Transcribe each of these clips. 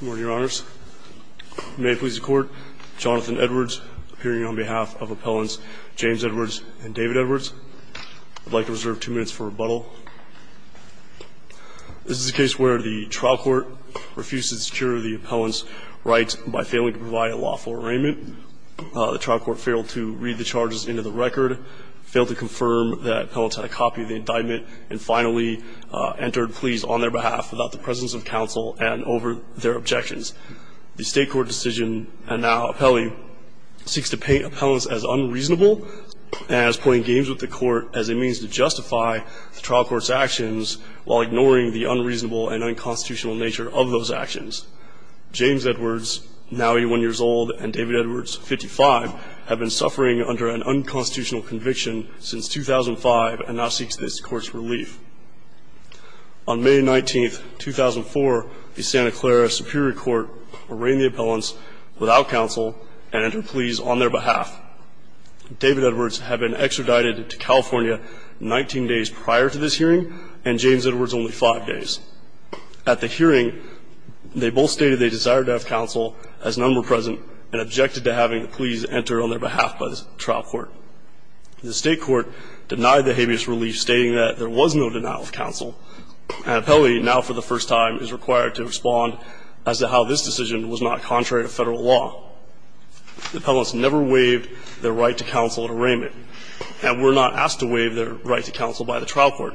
Good morning, Your Honors. May it please the Court, Jonathan Edwards appearing on behalf of appellants James Edwards and David Edwards. I'd like to reserve two minutes for rebuttal. This is a case where the trial court refused to secure the appellant's rights by failing to provide a lawful arraignment. The trial court failed to read the charges into the record, failed to confirm that the appellant had a copy of the indictment, and finally entered pleas on their behalf without the presence of counsel and over their objections. The state court decision, and now appellee, seeks to paint appellants as unreasonable and as playing games with the court as a means to justify the trial court's actions while ignoring the unreasonable and unconstitutional nature of those actions. James Edwards, now 81 years old, and David Edwards, 55, have been suffering under an unconstitutional conviction since 2005 and now seeks this court's On May 19, 2004, the Santa Clara Superior Court arraigned the appellants without counsel and entered pleas on their behalf. David Edwards had been extradited to California 19 days prior to this hearing and James Edwards only five days. At the hearing, they both stated they desired to have counsel as none were present and objected to having the pleas entered on their behalf by the trial court. The state court denied the habeas relief, stating that there was no denial of And appellee, now for the first time, is required to respond as to how this decision was not contrary to federal law. The appellants never waived their right to counsel at arraignment, and were not asked to waive their right to counsel by the trial court.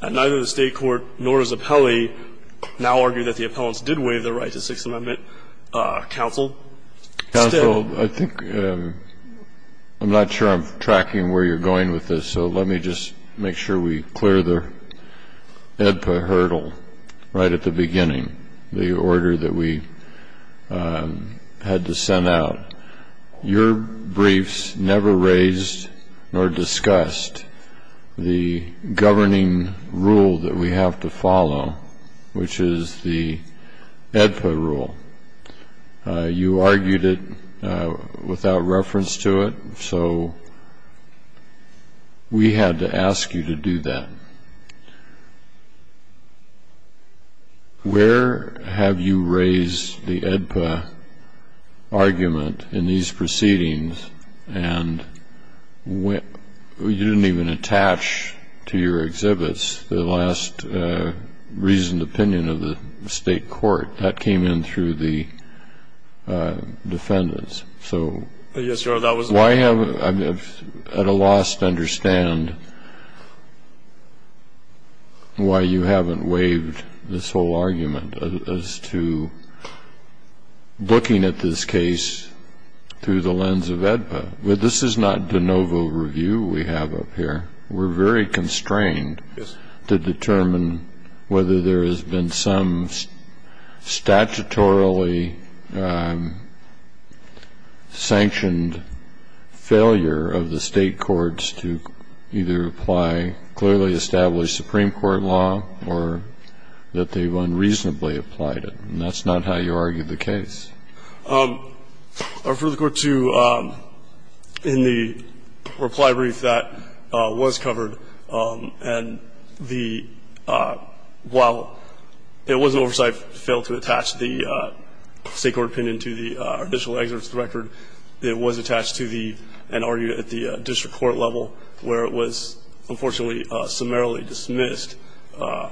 And neither the state court nor does appellee now argue that the appellants did waive their right to Sixth Amendment, uh, counsel. Counsel, I think, um, I'm not sure I'm tracking where you're going with this, so let me just make sure we clear the AEDPA hurdle right at the beginning. The order that we, um, had to send out. Your briefs never raised nor discussed the governing rule that we have to follow, which is the AEDPA rule. You argued it without reference to it. So we had to ask you to do that. Where have you raised the AEDPA argument in these proceedings? And when you didn't even attach to your exhibits the last, uh, reasoned opinion of the state court, that came in through the, uh, defendants. So why haven't, I'm at a loss to understand why you haven't waived this whole argument as to looking at this case through the lens of AEDPA. This is not de novo review we have up here. We're very constrained to determine whether there has been some statutorily, um, sanctioned failure of the state courts to either apply clearly established Supreme Court law or that they've unreasonably applied it. And that's not how you argue the case. Um, I refer the Court to, um, in the reply brief that, uh, was covered. Um, and the, uh, while it was an oversight, failed to attach the, uh, state court opinion to the, uh, additional excerpts of the record, it was attached to the, and argued at the district court level where it was unfortunately summarily dismissed, uh,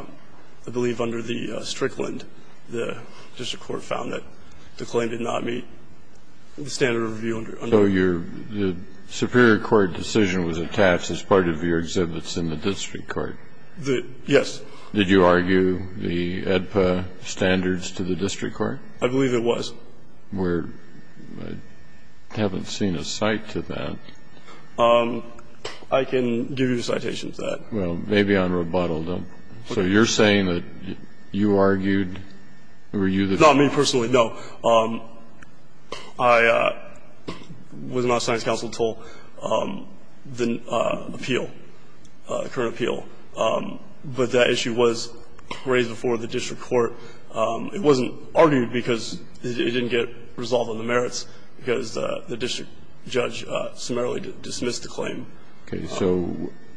I believe under the Strickland. And, uh, the, the Supreme Court, uh, the Supreme Court, uh, the Supreme Court found that the claim did not meet the standard of review under the Supreme Court. So your, the Superior Court decision was attached as part of your exhibits in the district court? The, yes. Did you argue the AEDPA standards to the district court? I believe it was. We're, I haven't seen a cite to that. Um, I can give you a citation to that. Well, maybe on rebuttal though. So you're saying that you argued, or were you the... Not me personally, no. Um, I, uh, was not assigned to counsel until, um, the, uh, appeal, uh, current appeal. Um, but that issue was raised before the district court. Um, it wasn't argued because it didn't get resolved on the merits because, uh, the district judge, uh, didn't, didn't, didn't necessarily dismiss the claim. Okay. So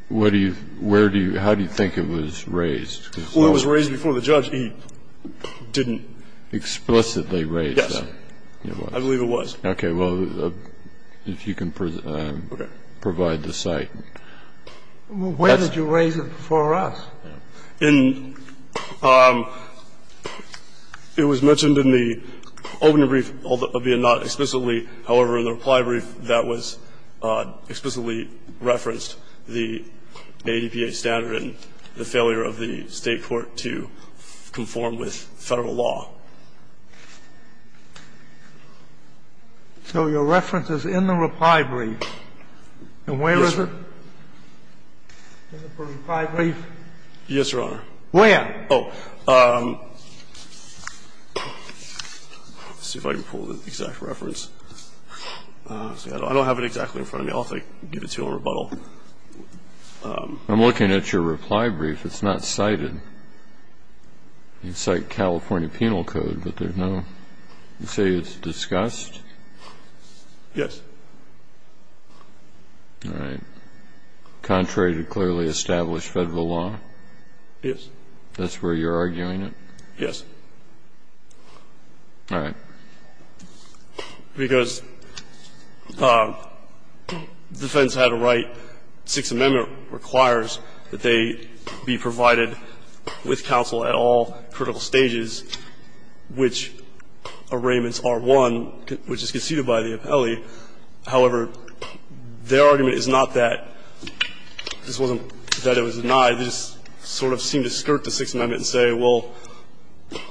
what do you, where do you, how do you think it was raised? Well, it was raised before the judge. He didn't... Explicitly raise that? Yes. I believe it was. Okay. Well, if you can, um, provide the cite. Where did you raise it before us? In, um, it was mentioned in the opening brief, albeit not explicitly. However, in the reply brief, that was, uh, explicitly referenced the ADPA standard and the failure of the State court to conform with Federal law. So your reference is in the reply brief. Yes, Your Honor. And where is it? In the reply brief? Yes, Your Honor. Where? Oh. Um, let's see if I can find it. If I can pull the exact reference. Uh, see, I don't, I don't have it exactly in front of me. I'll have to give it to you in rebuttal. Um... I'm looking at your reply brief. It's not cited. You cite California Penal Code, but there's no... You say it's discussed? Yes. All right. Contrary to clearly established Federal law? Yes. That's where you're arguing it? Yes. All right. Because, um, defense had a right, Sixth Amendment requires that they be provided with counsel at all critical stages, which arraignments are one, which is conceded by the appellee. However, their argument is not that this wasn't, that it was denied. They just sort of seem to skirt the Sixth Amendment and say, well,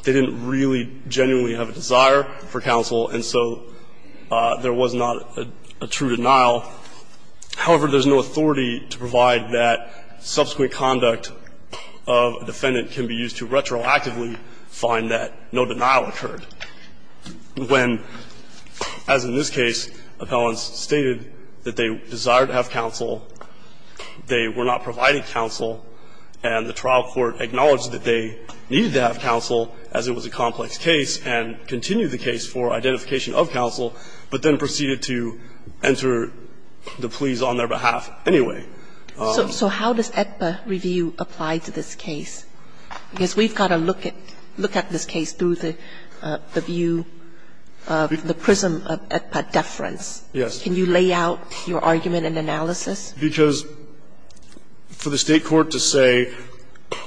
they didn't really genuinely have a desire for counsel, and so there was not a true denial. However, there's no authority to provide that subsequent conduct of a defendant can be used to retroactively find that no denial occurred. When, as in this case, appellants stated that they desired to have counsel, they were not providing counsel, and the trial could not be provided without counsel. So the State court, in this case, did not provide counsel, and the State court acknowledged that they needed to have counsel, as it was a complex case, and continued the case for identification of counsel, but then proceeded to enter the pleas on their behalf anyway. So how does AEDPA review apply to this case? Because we've got to look at this case through the view of the prism of AEDPA deference. Yes. Can you lay out your argument and analysis? Because for the State court to say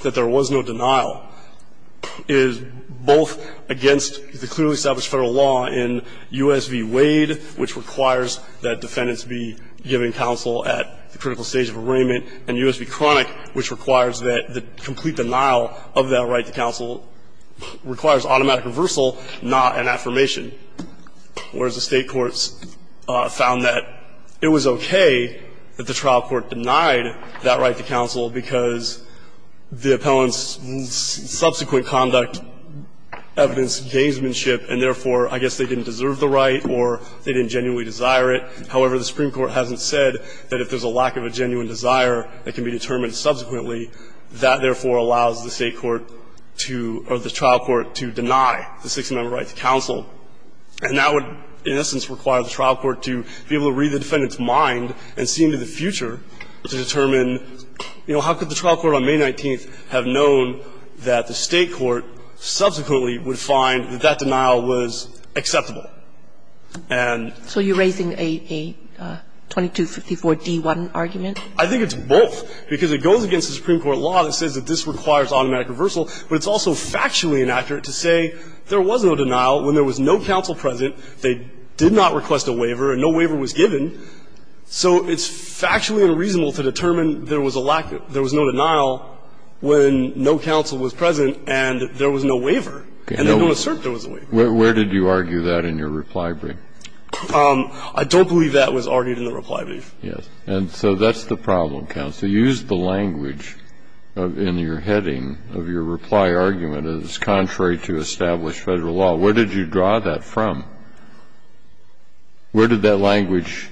that there was no denial is both against the clearly established Federal law in U.S. v. Wade, which requires that defendants be given counsel at the critical stage of arraignment, and U.S. v. Cronic, which requires that the complete denial of that right to counsel requires automatic reversal, not an affirmation, whereas the State courts found that it was okay that the trial court denied that right to counsel because the appellant's subsequent conduct evidenced gamesmanship, and therefore, I guess, they didn't deserve the right or they didn't genuinely desire it. However, the Supreme Court hasn't said that if there's a lack of a genuine desire that can be determined subsequently, that, therefore, allows the State court to or the trial court to deny the six-member right to counsel. And that would, in essence, require the trial court to be able to read the defendant's mind and see into the future to determine, you know, how could the trial court on May 19th have known that the State court subsequently would find that that denial was acceptable? And so you're raising a 2254d-1 argument? I think it's both, because it goes against the Supreme Court law that says that this requires automatic reversal, but it's also factually inaccurate to say there was no denial when there was no counsel present, they did not request a waiver, and no waiver was given. So it's factually unreasonable to determine there was a lack of – there was no denial when no counsel was present and there was no waiver, and they don't assert there was a waiver. Okay. Where did you argue that in your reply brief? I don't believe that was argued in the reply brief. Yes. And so that's the problem, counsel. You used the language in your heading of your reply argument, and it's contrary to established Federal law. Where did you draw that from? Where did that language,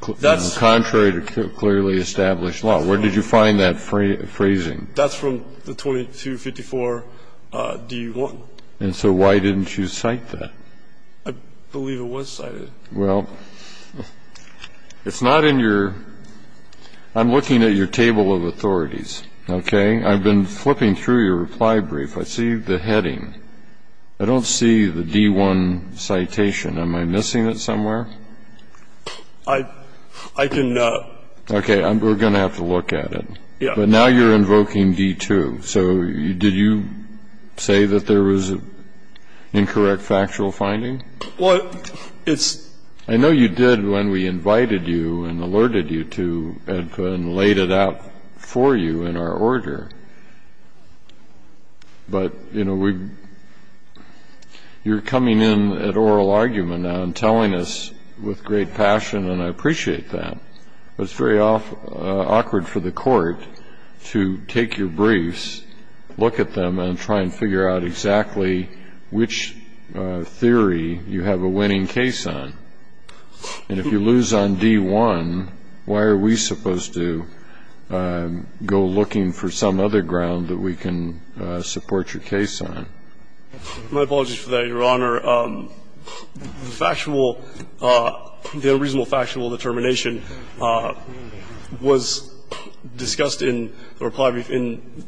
contrary to clearly established law, where did you find that phrasing? That's from the 2254d-1. And so why didn't you cite that? I believe it was cited. Well, it's not in your – I'm looking at your table of authorities, okay? I've been flipping through your reply brief. I see the heading. I don't see the D-1 citation. Am I missing it somewhere? I can – Okay. We're going to have to look at it. Yes. But now you're invoking D-2. So did you say that there was an incorrect factual finding? Well, it's – I know you did when we invited you and alerted you to it and laid it out for you in our order. But, you know, we – you're coming in at oral argument now and telling us with great passion, and I appreciate that. But it's very awkward for the Court to take your briefs, look at them, and try and figure out exactly which theory you have a winning case on. And if you lose on D-1, why are we supposed to go looking for some other ground that we can support your case on? My apologies for that, Your Honor. The factual – the unreasonable factual determination was discussed in the reply brief in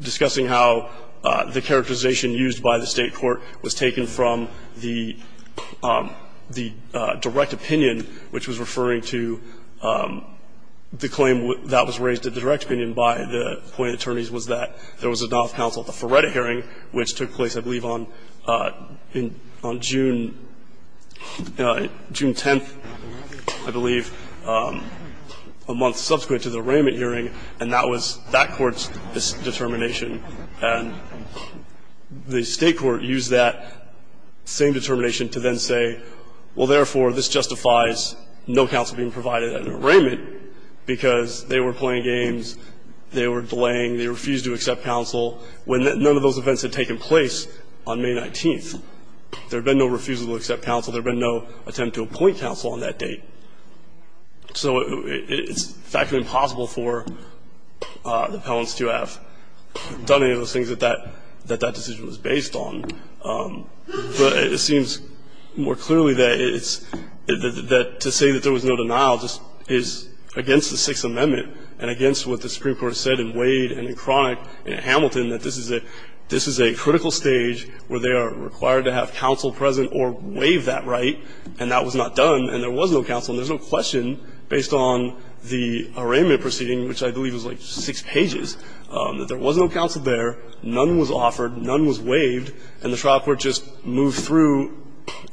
discussing how the characterization used by the State court was taken from the – the direct opinion, which was referring to the claim that was raised at the direct opinion by the appointing attorneys was that there was a non-counsel at the Feretta hearing, which took place, I believe, on June – June 10th, I believe, a month subsequent to the arraignment hearing, and that was that court's determination. And the State court used that same determination to then say, well, therefore, this justifies no counsel being provided at an arraignment because they were playing games, they were delaying, they refused to accept counsel, when none of those events had taken place on May 19th. There had been no refusal to accept counsel. There had been no attempt to appoint counsel on that date. So it's factually impossible for the appellants to have done any of those things that that – that that decision was based on. But it seems more clearly that it's – that to say that there was no denial just is against the Sixth Amendment and against what the Supreme Court said in Wade and in Cronick and in Hamilton, that this is a – this is a critical stage where they are required to have counsel present or waive that right, and that was not done, and there was no counsel. And there's no question, based on the arraignment proceeding, which I believe was like six pages, that there was no counsel there, none was offered, none was waived, and the trial court just moved through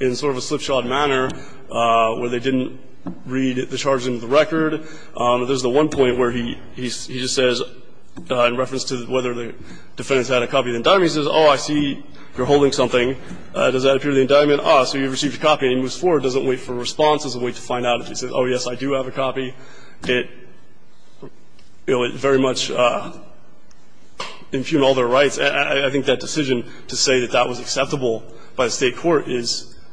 in sort of a slipshod manner where they didn't read the charges into the record. There's the one point where he – he just says, in reference to whether the defendants had a copy of the indictment, he says, oh, I see you're holding something. Does that appear to be the indictment? Ah, so you received a copy, and he moves forward, doesn't wait for a response, doesn't wait to find out. If he says, oh, yes, I do have a copy, it – you know, it very much impugned all their rights. I think that decision to say that that was acceptable by the State court is –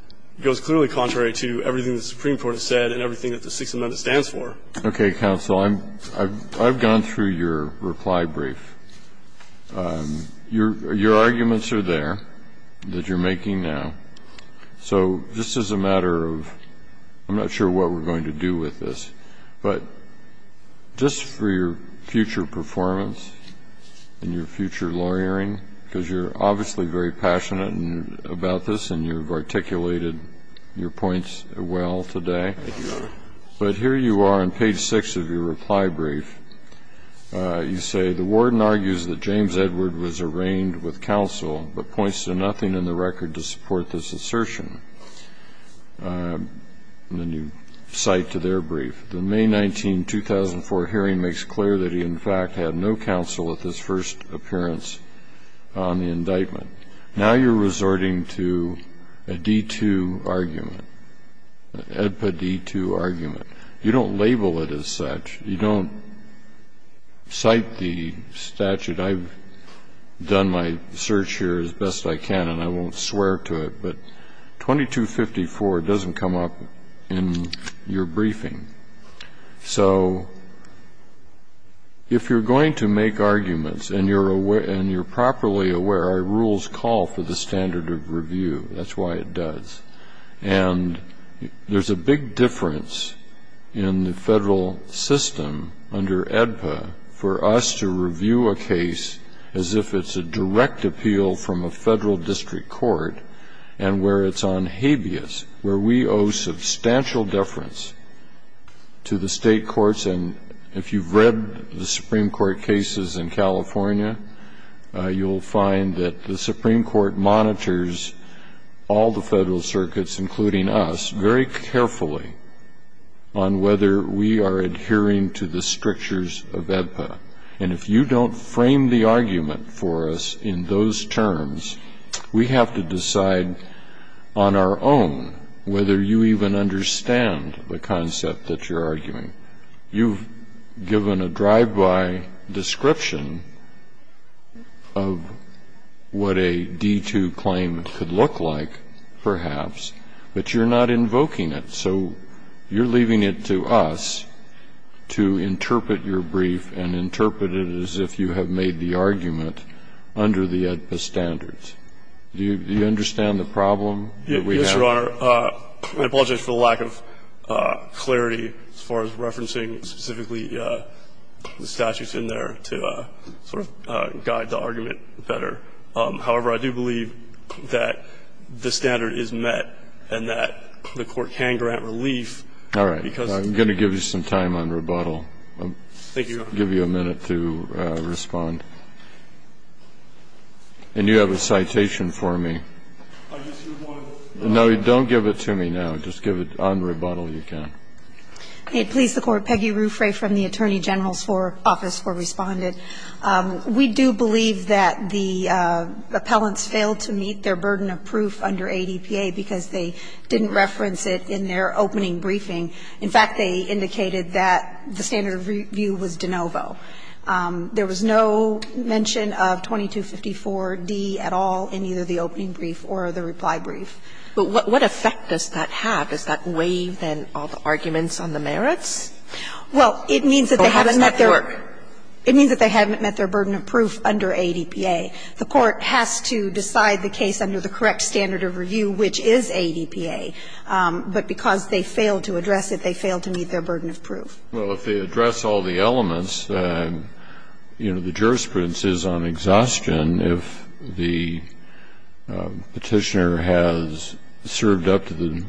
goes clearly contrary to everything the Supreme Court has said and everything that the Sixth Amendment stands for. Okay, counsel. I'm – I've gone through your reply brief. Your – your arguments are there that you're making now. So just as a matter of – I'm not sure what we're going to do with this, but just for your future performance and your future lawyering, because you're obviously very passionate about this and you've articulated Thank you, Your Honor. But here you are on page 6 of your reply brief. You say, the warden argues that James Edward was arraigned with counsel, but points to nothing in the record to support this assertion. And then you cite to their brief, the May 19, 2004 hearing makes clear that he, in fact, had no counsel at this first appearance on the You don't label it as such. You don't cite the statute. I've done my search here as best I can and I won't swear to it, but 2254 doesn't come up in your briefing. So if you're going to make arguments and you're aware – and you're properly aware, our rules call for the standard of review. That's why it does. And there's a big difference in the federal system under AEDPA for us to review a case as if it's a direct appeal from a federal district court and where it's on habeas, where we owe substantial deference to the state courts. And if you've read the Supreme Court cases in California, you'll find that the Supreme Court monitors all the federal circuits, including us, very carefully on whether we are adhering to the strictures of AEDPA. And if you don't frame the argument for us in those terms, we have to decide on our own whether you even understand the concept that you're arguing. You've given a drive-by description of what a D2 claim could look like, perhaps, but you're not invoking it. So you're leaving it to us to interpret your brief and interpret it as if you have made the argument under the AEDPA standards. Do you understand the problem that we have? Yes, Your Honor. I apologize for the lack of clarity as far as referencing specifically the statutes in there to sort of guide the argument better. However, I do believe that the standard is met and that the Court can grant relief because of the fact that the statute is met. All right. I'm going to give you some time on rebuttal. Thank you, Your Honor. I'll give you a minute to respond. And you have a citation for me. I just do want to say one thing. No, don't give it to me now. Just give it on rebuttal, if you can. May it please the Court. Peggy Ruffray from the Attorney General's Office for Respondent. We do believe that the appellants failed to meet their burden of proof under AEDPA because they didn't reference it in their opening briefing. In fact, they indicated that the standard of review was de novo. There was no mention of 2254d at all in either the opening brief or the reply brief. But what effect does that have? Does that waive, then, all the arguments on the merits? Well, it means that they haven't met their burden of proof under AEDPA. The Court has to decide the case under the correct standard of review, which is AEDPA. But because they failed to address it, they failed to meet their burden of proof. Well, if they address all the elements, you know, the jurisprudence is on exhaustion. And if the petitioner has served up to the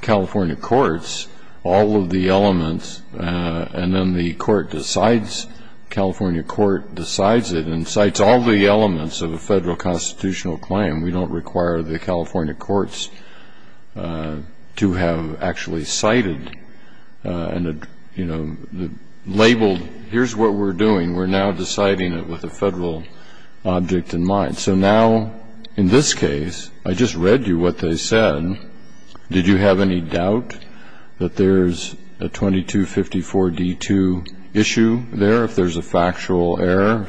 California courts all of the elements and then the court decides, the California court decides it and cites all the elements of a federal constitutional claim, we don't require the California courts to have actually cited and, you know, labeled, here's what we're doing. We're now deciding it with a federal object in mind. So now, in this case, I just read you what they said. Did you have any doubt that there's a 2254d-2 issue there, if there's a factual error,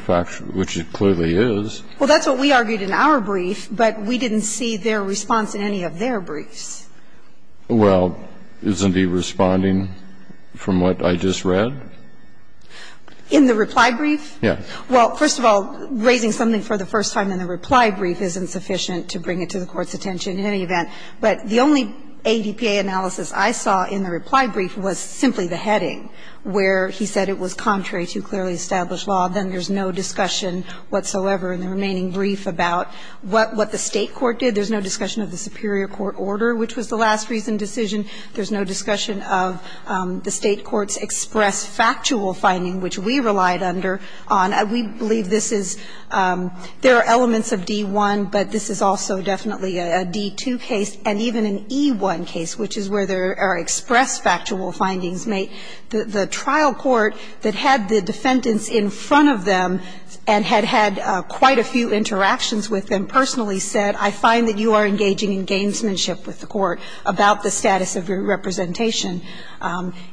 which it clearly is? Well, that's what we argued in our brief, but we didn't see their response in any of their briefs. Well, isn't he responding from what I just read? In the reply brief? Yes. Well, first of all, raising something for the first time in the reply brief isn't sufficient to bring it to the Court's attention in any event. But the only ADPA analysis I saw in the reply brief was simply the heading, where he said it was contrary to clearly established law, then there's no discussion whatsoever in the remaining brief about what the State court did. There's no discussion of the superior court order, which was the last reason decision. There's no discussion of the State court's expressed factual finding, which we relied under on. We believe this is – there are elements of D-1, but this is also definitely a D-2 case, and even an E-1 case, which is where there are expressed factual findings made. The trial court that had the defendants in front of them and had had quite a few interactions with them personally said, I find that you are engaging in gamesmanship with the court about the status of your representation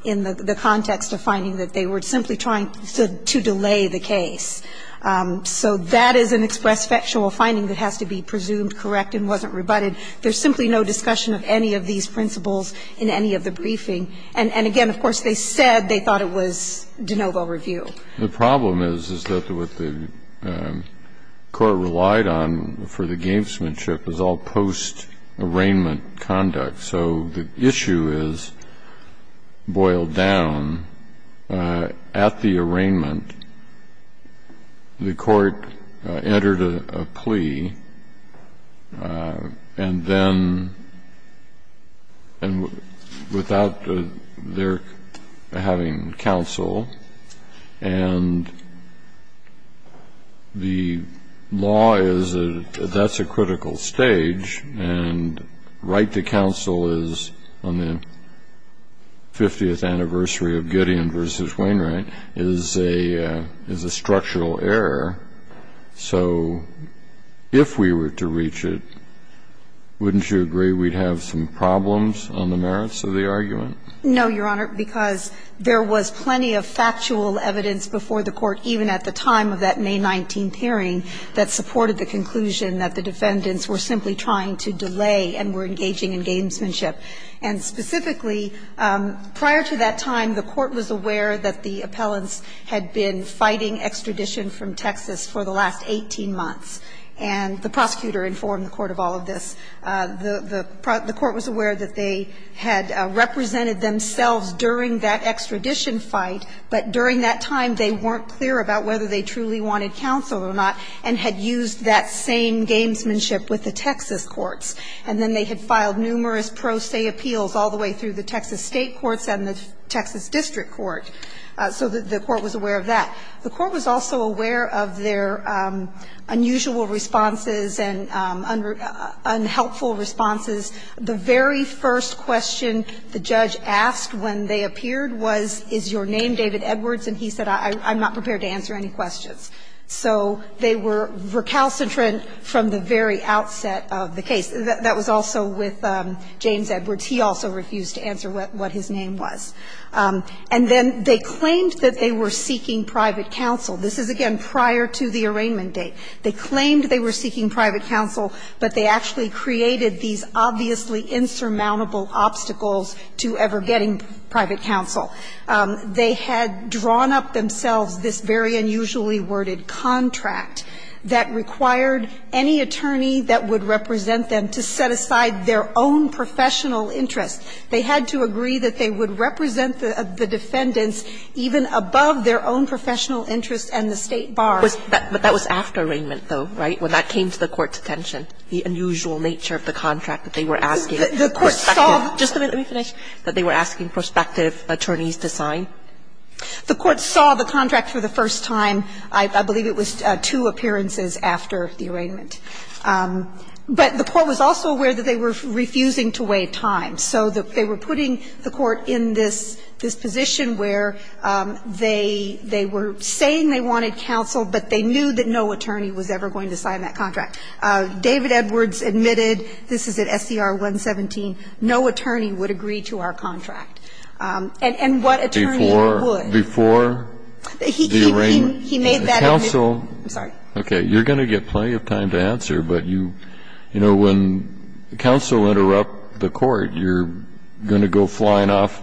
in the context of finding that they were simply trying to delay the case. So that is an expressed factual finding that has to be presumed correct and wasn't rebutted. There's simply no discussion of any of these principles in any of the briefing. And again, of course, they said they thought it was de novo review. The problem is, is that what the court relied on for the gamesmanship was all post-arraignment conduct. So the issue is boiled down. At the arraignment, the court entered a plea, and then – and without their having counsel, and the law is a – that's a critical stage, and right to counsel is, on the 50th anniversary of Gideon v. Wainwright, is a – is a structural error. So if we were to reach it, wouldn't you agree we'd have some problems on the merits of the argument? No, Your Honor, because there was plenty of factual evidence before the court, even at the time of that May 19th hearing, that supported the conclusion that the defendants were simply trying to delay and were engaging in gamesmanship. And specifically, prior to that time, the court was aware that the appellants had been fighting extradition from Texas for the last 18 months. And the prosecutor informed the court of all of this. The court was aware that they had represented themselves during that extradition fight, but during that time, they weren't clear about whether they truly wanted counsel or not, and had used that same gamesmanship with the Texas courts. And then they had filed numerous pro se appeals all the way through the Texas state courts and the Texas district court. So the court was aware of that. The court was also aware of their unusual responses and unhelpful responses. The very first question the judge asked when they appeared was, is your name David Edwards? And he said, I'm not prepared to answer any questions. So they were recalcitrant from the very outset of the case. That was also with James Edwards. He also refused to answer what his name was. And then they claimed that they were seeking private counsel. This is, again, prior to the arraignment date. They claimed they were seeking private counsel, but they actually created these obviously insurmountable obstacles to ever getting private counsel. They had drawn up themselves this very unusually worded contract that required any attorney that would represent them to set aside their own professional interests. They had to agree that they would represent the defendants even above their own professional interests and the State bar. Kagan. But that was after arraignment, though, right, when that came to the court's attention, the unusual nature of the contract that they were asking. The court saw. Just a minute. Let me finish. That they were asking prospective attorneys to sign. The court saw the contract for the first time. I believe it was two appearances after the arraignment. But the court was also aware that they were refusing to wait time. So they were putting the court in this position where they were saying they wanted counsel, but they knew that no attorney was ever going to sign that contract. David Edwards admitted, this is at SCR 117, no attorney would agree to our contract. And what attorney would? Before the arraignment. He made that argument. Counsel. I'm sorry. You're going to get plenty of time to answer. But you know, when counsel interrupt the court, you're going to go flying off,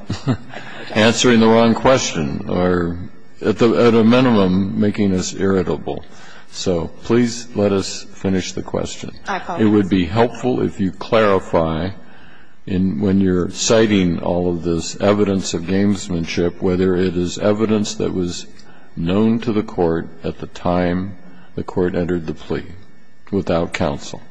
answering the wrong question, or at a minimum making us irritable. So please let us finish the question. It would be helpful if you clarify when you're citing all of this evidence of gamesmanship whether it is evidence that was known to the court at the time the court entered the plea without counsel.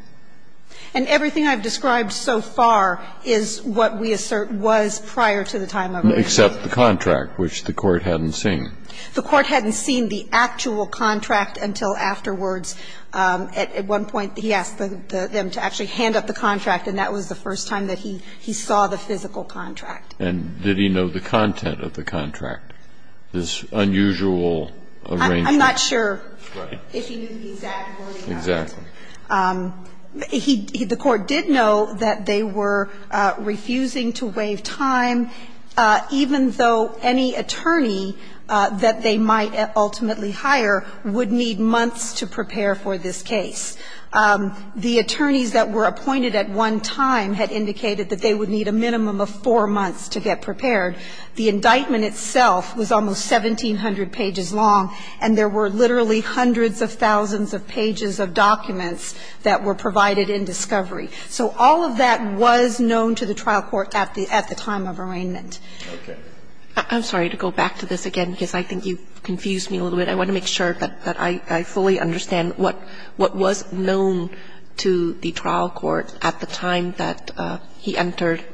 And everything I've described so far is what we assert was prior to the time of the plea. Except the contract, which the court hadn't seen. The court hadn't seen the actual contract until afterwards. At one point, he asked them to actually hand up the contract, and that was the first time that he saw the physical contract. And did he know the content of the contract, this unusual arrangement? I'm not sure if he knew the exact wording of it. Exactly. The court did know that they were refusing to waive time, even though any attorney that they might ultimately hire would need months to prepare for this case. The attorneys that were appointed at one time had indicated that they would need a minimum of four months to get prepared. The indictment itself was almost 1,700 pages long, and there were literally hundreds of thousands of pages of documents that were provided in discovery. So all of that was known to the trial court at the time of arraignment. Okay. I'm sorry to go back to this again, because I think you confused me a little bit. I want to make sure that I fully understand what was known to the trial court at the time that he entered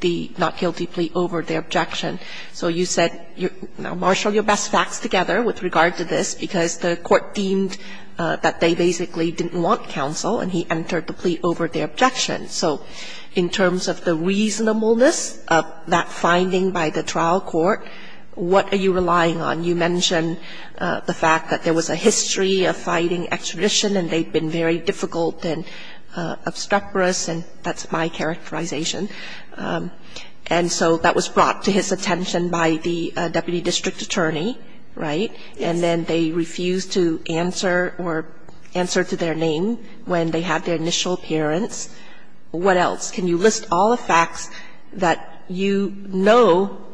the not guilty plea over their objection. So you said you marshaled your best facts together with regard to this because the court deemed that they basically didn't want counsel, and he entered the plea over their objection. So in terms of the reasonableness of that finding by the trial court, what are you relying on? You mentioned the fact that there was a history of fighting extradition, and they'd been very difficult and obstreperous, and that's my characterization. And so that was brought to his attention by the deputy district attorney, right? And then they refused to answer or answer to their name when they had their initial appearance. What else? Can you list all the facts that you know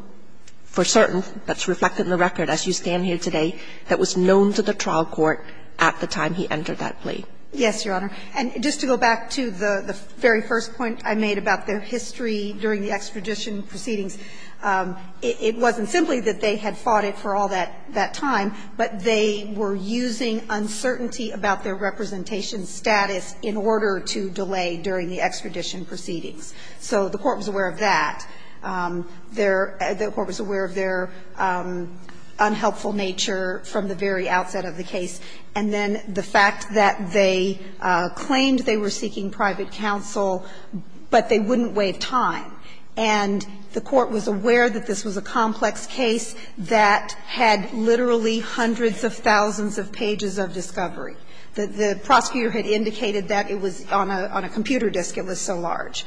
for certain that's reflected in the record as you stand here today that was known to the trial court at the time he entered that plea? Yes, Your Honor. And just to go back to the very first point I made about their history during the extradition proceedings, it wasn't simply that they had fought it for all that time, but they were using uncertainty about their representation status in order to delay during the extradition proceedings. So the court was aware of that. The court was aware of their unhelpful nature from the very outset of the case. And then the fact that they claimed they were seeking private counsel, but they wouldn't waive time. And the court was aware that this was a complex case that had literally hundreds of thousands of pages of discovery. The prosecutor had indicated that it was on a computer disk, it was so large.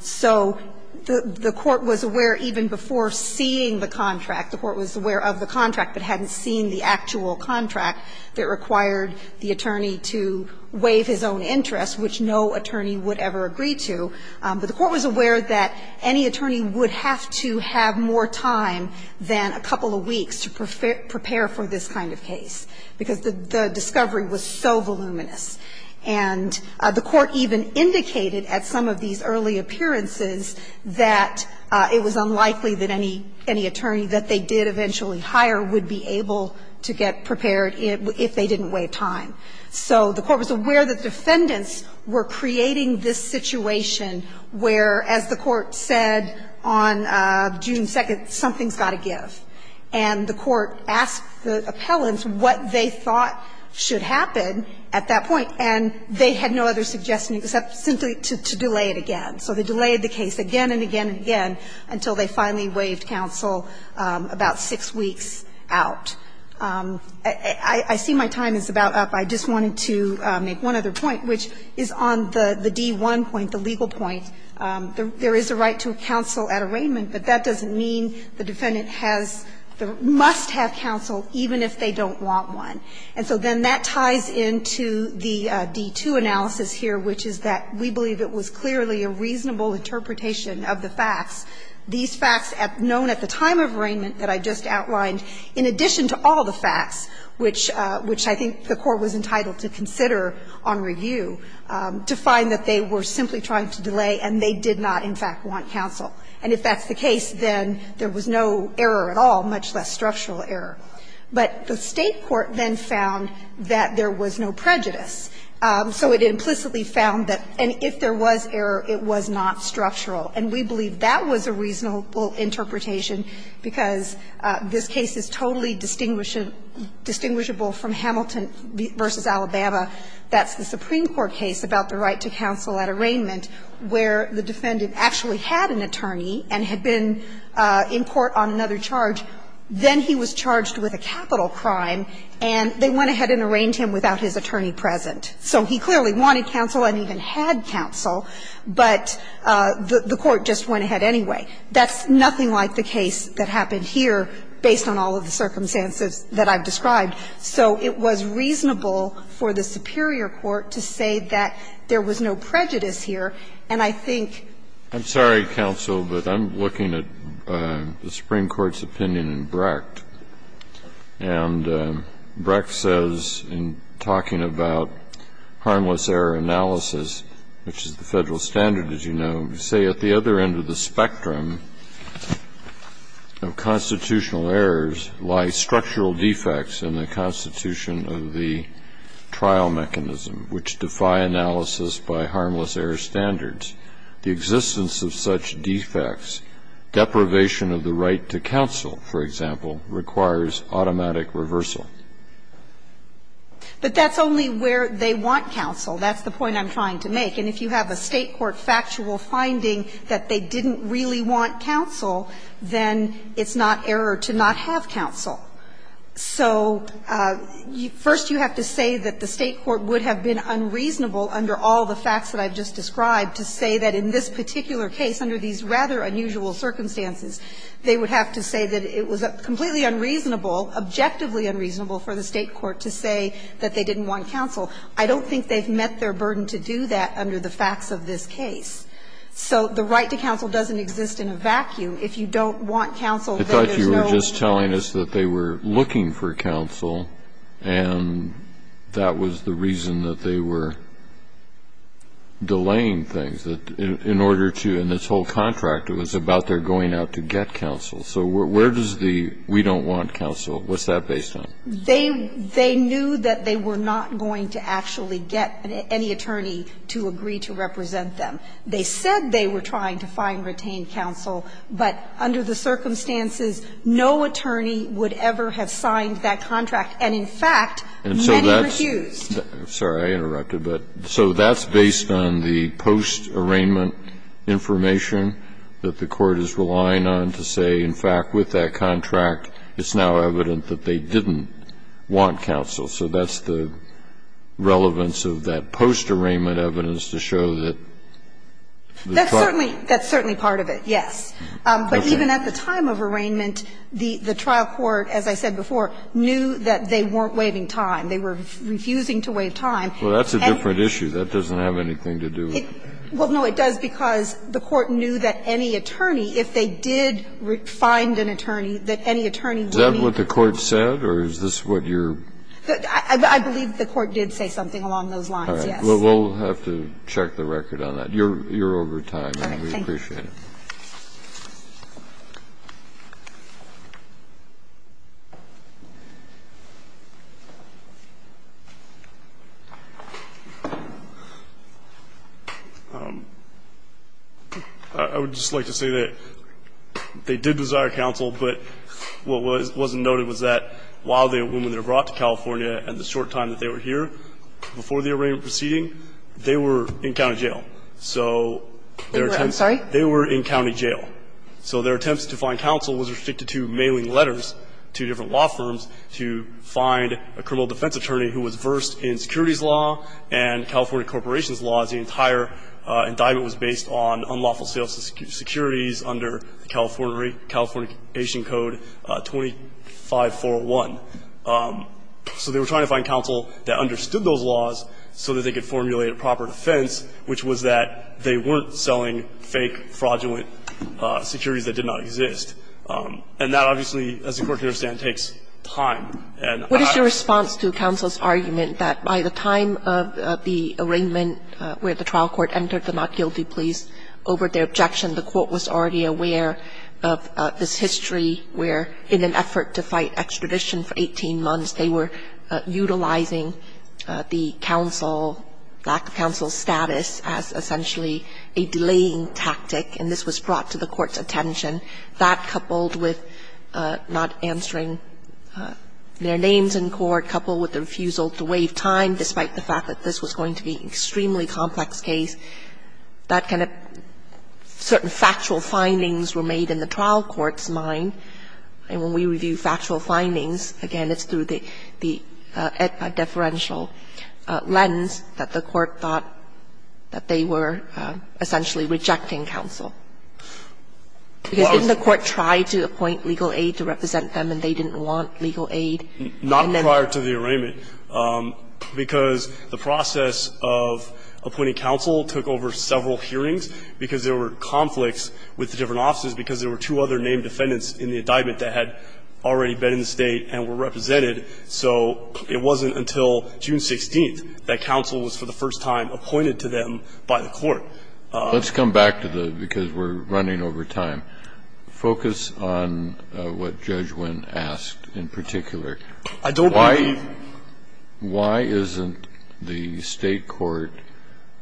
So the court was aware even before seeing the contract, the court was aware of the contract, but hadn't seen the actual contract that required the attorney to waive his own interest, which no attorney would ever agree to. But the court was aware that any attorney would have to have more time than a couple of weeks to prepare for this kind of case, because the discovery was so voluminous. And the court even indicated at some of these early appearances that it was unlikely that any attorney that they did eventually hire would be able to get prepared if they didn't waive time. So the court was aware that the defendants were creating this situation where, as the court said on June 2nd, something's got to give. And the court asked the appellants what they thought should happen at that point. And they had no other suggestion except simply to delay it again. So they delayed the case again and again and again until they finally waived counsel about six weeks out. I see my time is about up. I just wanted to make one other point, which is on the D1 point, the legal point. There is a right to counsel at arraignment, but that doesn't mean the defendant has the --"must have counsel even if they don't want one." And so then that ties into the D2 analysis here, which is that we believe it was clearly a reasonable interpretation of the facts. These facts known at the time of arraignment that I just outlined, in addition to all the facts, which I think the court was entitled to consider on review, to find that they were simply trying to delay and they did not, in fact, want counsel. And if that's the case, then there was no error at all, much less structural error. But the State court then found that there was no prejudice. So it implicitly found that if there was error, it was not structural. And we believe that was a reasonable interpretation, because this case is totally distinguishable from Hamilton v. Alabama. That's the Supreme Court case about the right to counsel at arraignment, where the defendant actually had an attorney and had been in court on another charge. Then he was charged with a capital crime, and they went ahead and arraigned him without his attorney present. So he clearly wanted counsel and even had counsel, but the court just went ahead anyway. That's nothing like the case that happened here, based on all of the circumstances that I've described. So it was reasonable for the superior court to say that there was no prejudice here. And I think the Supreme Court's opinion in Brecht, and Brecht says, in talking about harmless error analysis, which is the Federal standard, as you know, you say at the other end of the spectrum of constitutional errors lie structural defects in the constitution of the trial mechanism, which defy analysis by harmless error standards. The existence of such defects, deprivation of the right to counsel, for example, requires automatic reversal. But that's only where they want counsel. That's the point I'm trying to make. And if you have a State court factual finding that they didn't really want counsel, then it's not error to not have counsel. So first you have to say that the State court would have been unreasonable under all the facts that I've just described to say that in this particular case, under these rather unusual circumstances, they would have to say that it was completely unreasonable, objectively unreasonable for the State court to say that they didn't want counsel. I don't think they've met their burden to do that under the facts of this case. So the right to counsel doesn't exist in a vacuum. If you don't want counsel, then there's no reason for it. Kennedy. I thought you were just telling us that they were looking for counsel, and that was the reason that they were delaying things, that in order to, in this whole contract, it was about their going out to get counsel. So where does the we don't want counsel, what's that based on? They knew that they were not going to actually get any attorney to agree to represent them. They said they were trying to find retained counsel, but under the circumstances, no attorney would ever have signed that contract, and in fact, many refused. And so that's sorry, I interrupted, but so that's based on the post-arraignment information that the court is relying on to say, in fact, with that contract, it's now evident that they didn't want counsel. So that's the relevance of that post-arraignment evidence to show that the trial court. That's certainly part of it, yes. But even at the time of arraignment, the trial court, as I said before, knew that they weren't waiving time. They were refusing to waive time. Well, that's a different issue. That doesn't have anything to do with it. Well, no, it does, because the court knew that any attorney, if they did find an attorney, that any attorney would be. Is that what the court said, or is this what you're? I believe the court did say something along those lines, yes. All right. Well, we'll have to check the record on that. You're over time. All right. Thank you. We appreciate it. I would just like to say that they did desire counsel, but what wasn't noted was that while they were willing to be brought to trial, they didn't desire counsel. So they were trying to find counsel that understood those laws so that they could formulate a proper defense, which was that they weren't selling fake, fraudulent securities that did not exist. And that obviously, as the Court can understand, takes time. And I don't think that's the case. What is your response to counsel's argument that by the time of the arraignment where the trial court entered the not-guilty please, over their objection, the court was already aware of this history where, in an effort to fight extradition for 18 months, they were utilizing the counsel, lack of counsel status, as essentially a delaying tactic, and this was brought to the court's attention. That, coupled with not answering their names in court, coupled with the refusal to waive time, despite the fact that this was going to be an extremely complex case, that kind of certain factual findings were made in the trial court's mind. And when we review factual findings, again, it's through the deferential lens that the court thought that they were essentially rejecting counsel. Because didn't the court try to appoint legal aid to represent them, and they didn't want legal aid? And then the court tried to appoint legal aid to represent them, and they didn't want legal aid. And so they were not going to be able to get any legal aid. And the court, in its own view, decided that they were going to appoint legal aid in the indictment that had already been in the State and were represented. So it wasn't until June 16th that counsel was, for the first time, appointed to them by the court. Kennedy. Let's come back to the --"because we're running over time." Focus on what Judge Wynn asked in particular. I don't believe the State court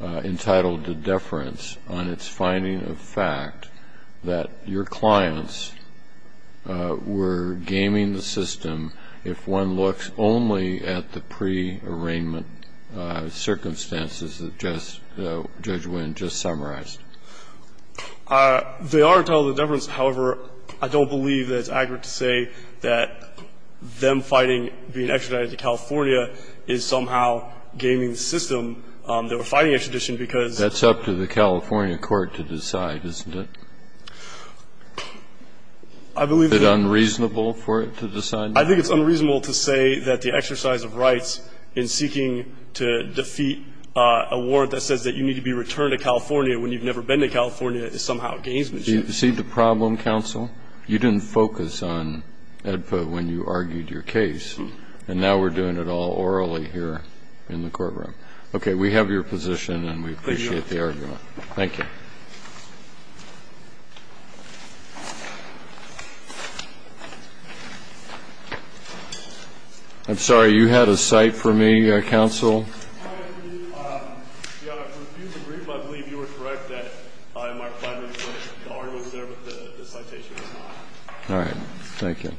entitled to deference on its finding of fact that your clients were gaming the system if one looks only at the pre-arraignment circumstances that Judge Wynn just summarized. They are entitled to deference. However, I don't believe that it's accurate to say that them fighting, being extradited to California, is somehow gaming the system. They were fighting extradition because of the law. That's up to the California court to decide, isn't it? Is it unreasonable for it to decide that? I think it's unreasonable to say that the exercise of rights in seeking to defeat a warrant that says that you need to be returned to California when you've never been to California is somehow a gamesmanship. Do you see the problem, counsel? You didn't focus on AEDPA when you argued your case, and now we're doing it all orally here in the courtroom. Okay. We have your position, and we appreciate the argument. Thank you. I'm sorry, you had a cite for me, counsel? I refuse to agree, but I believe you were correct that I might find the argument there, but the citation is not. All right. Thank you.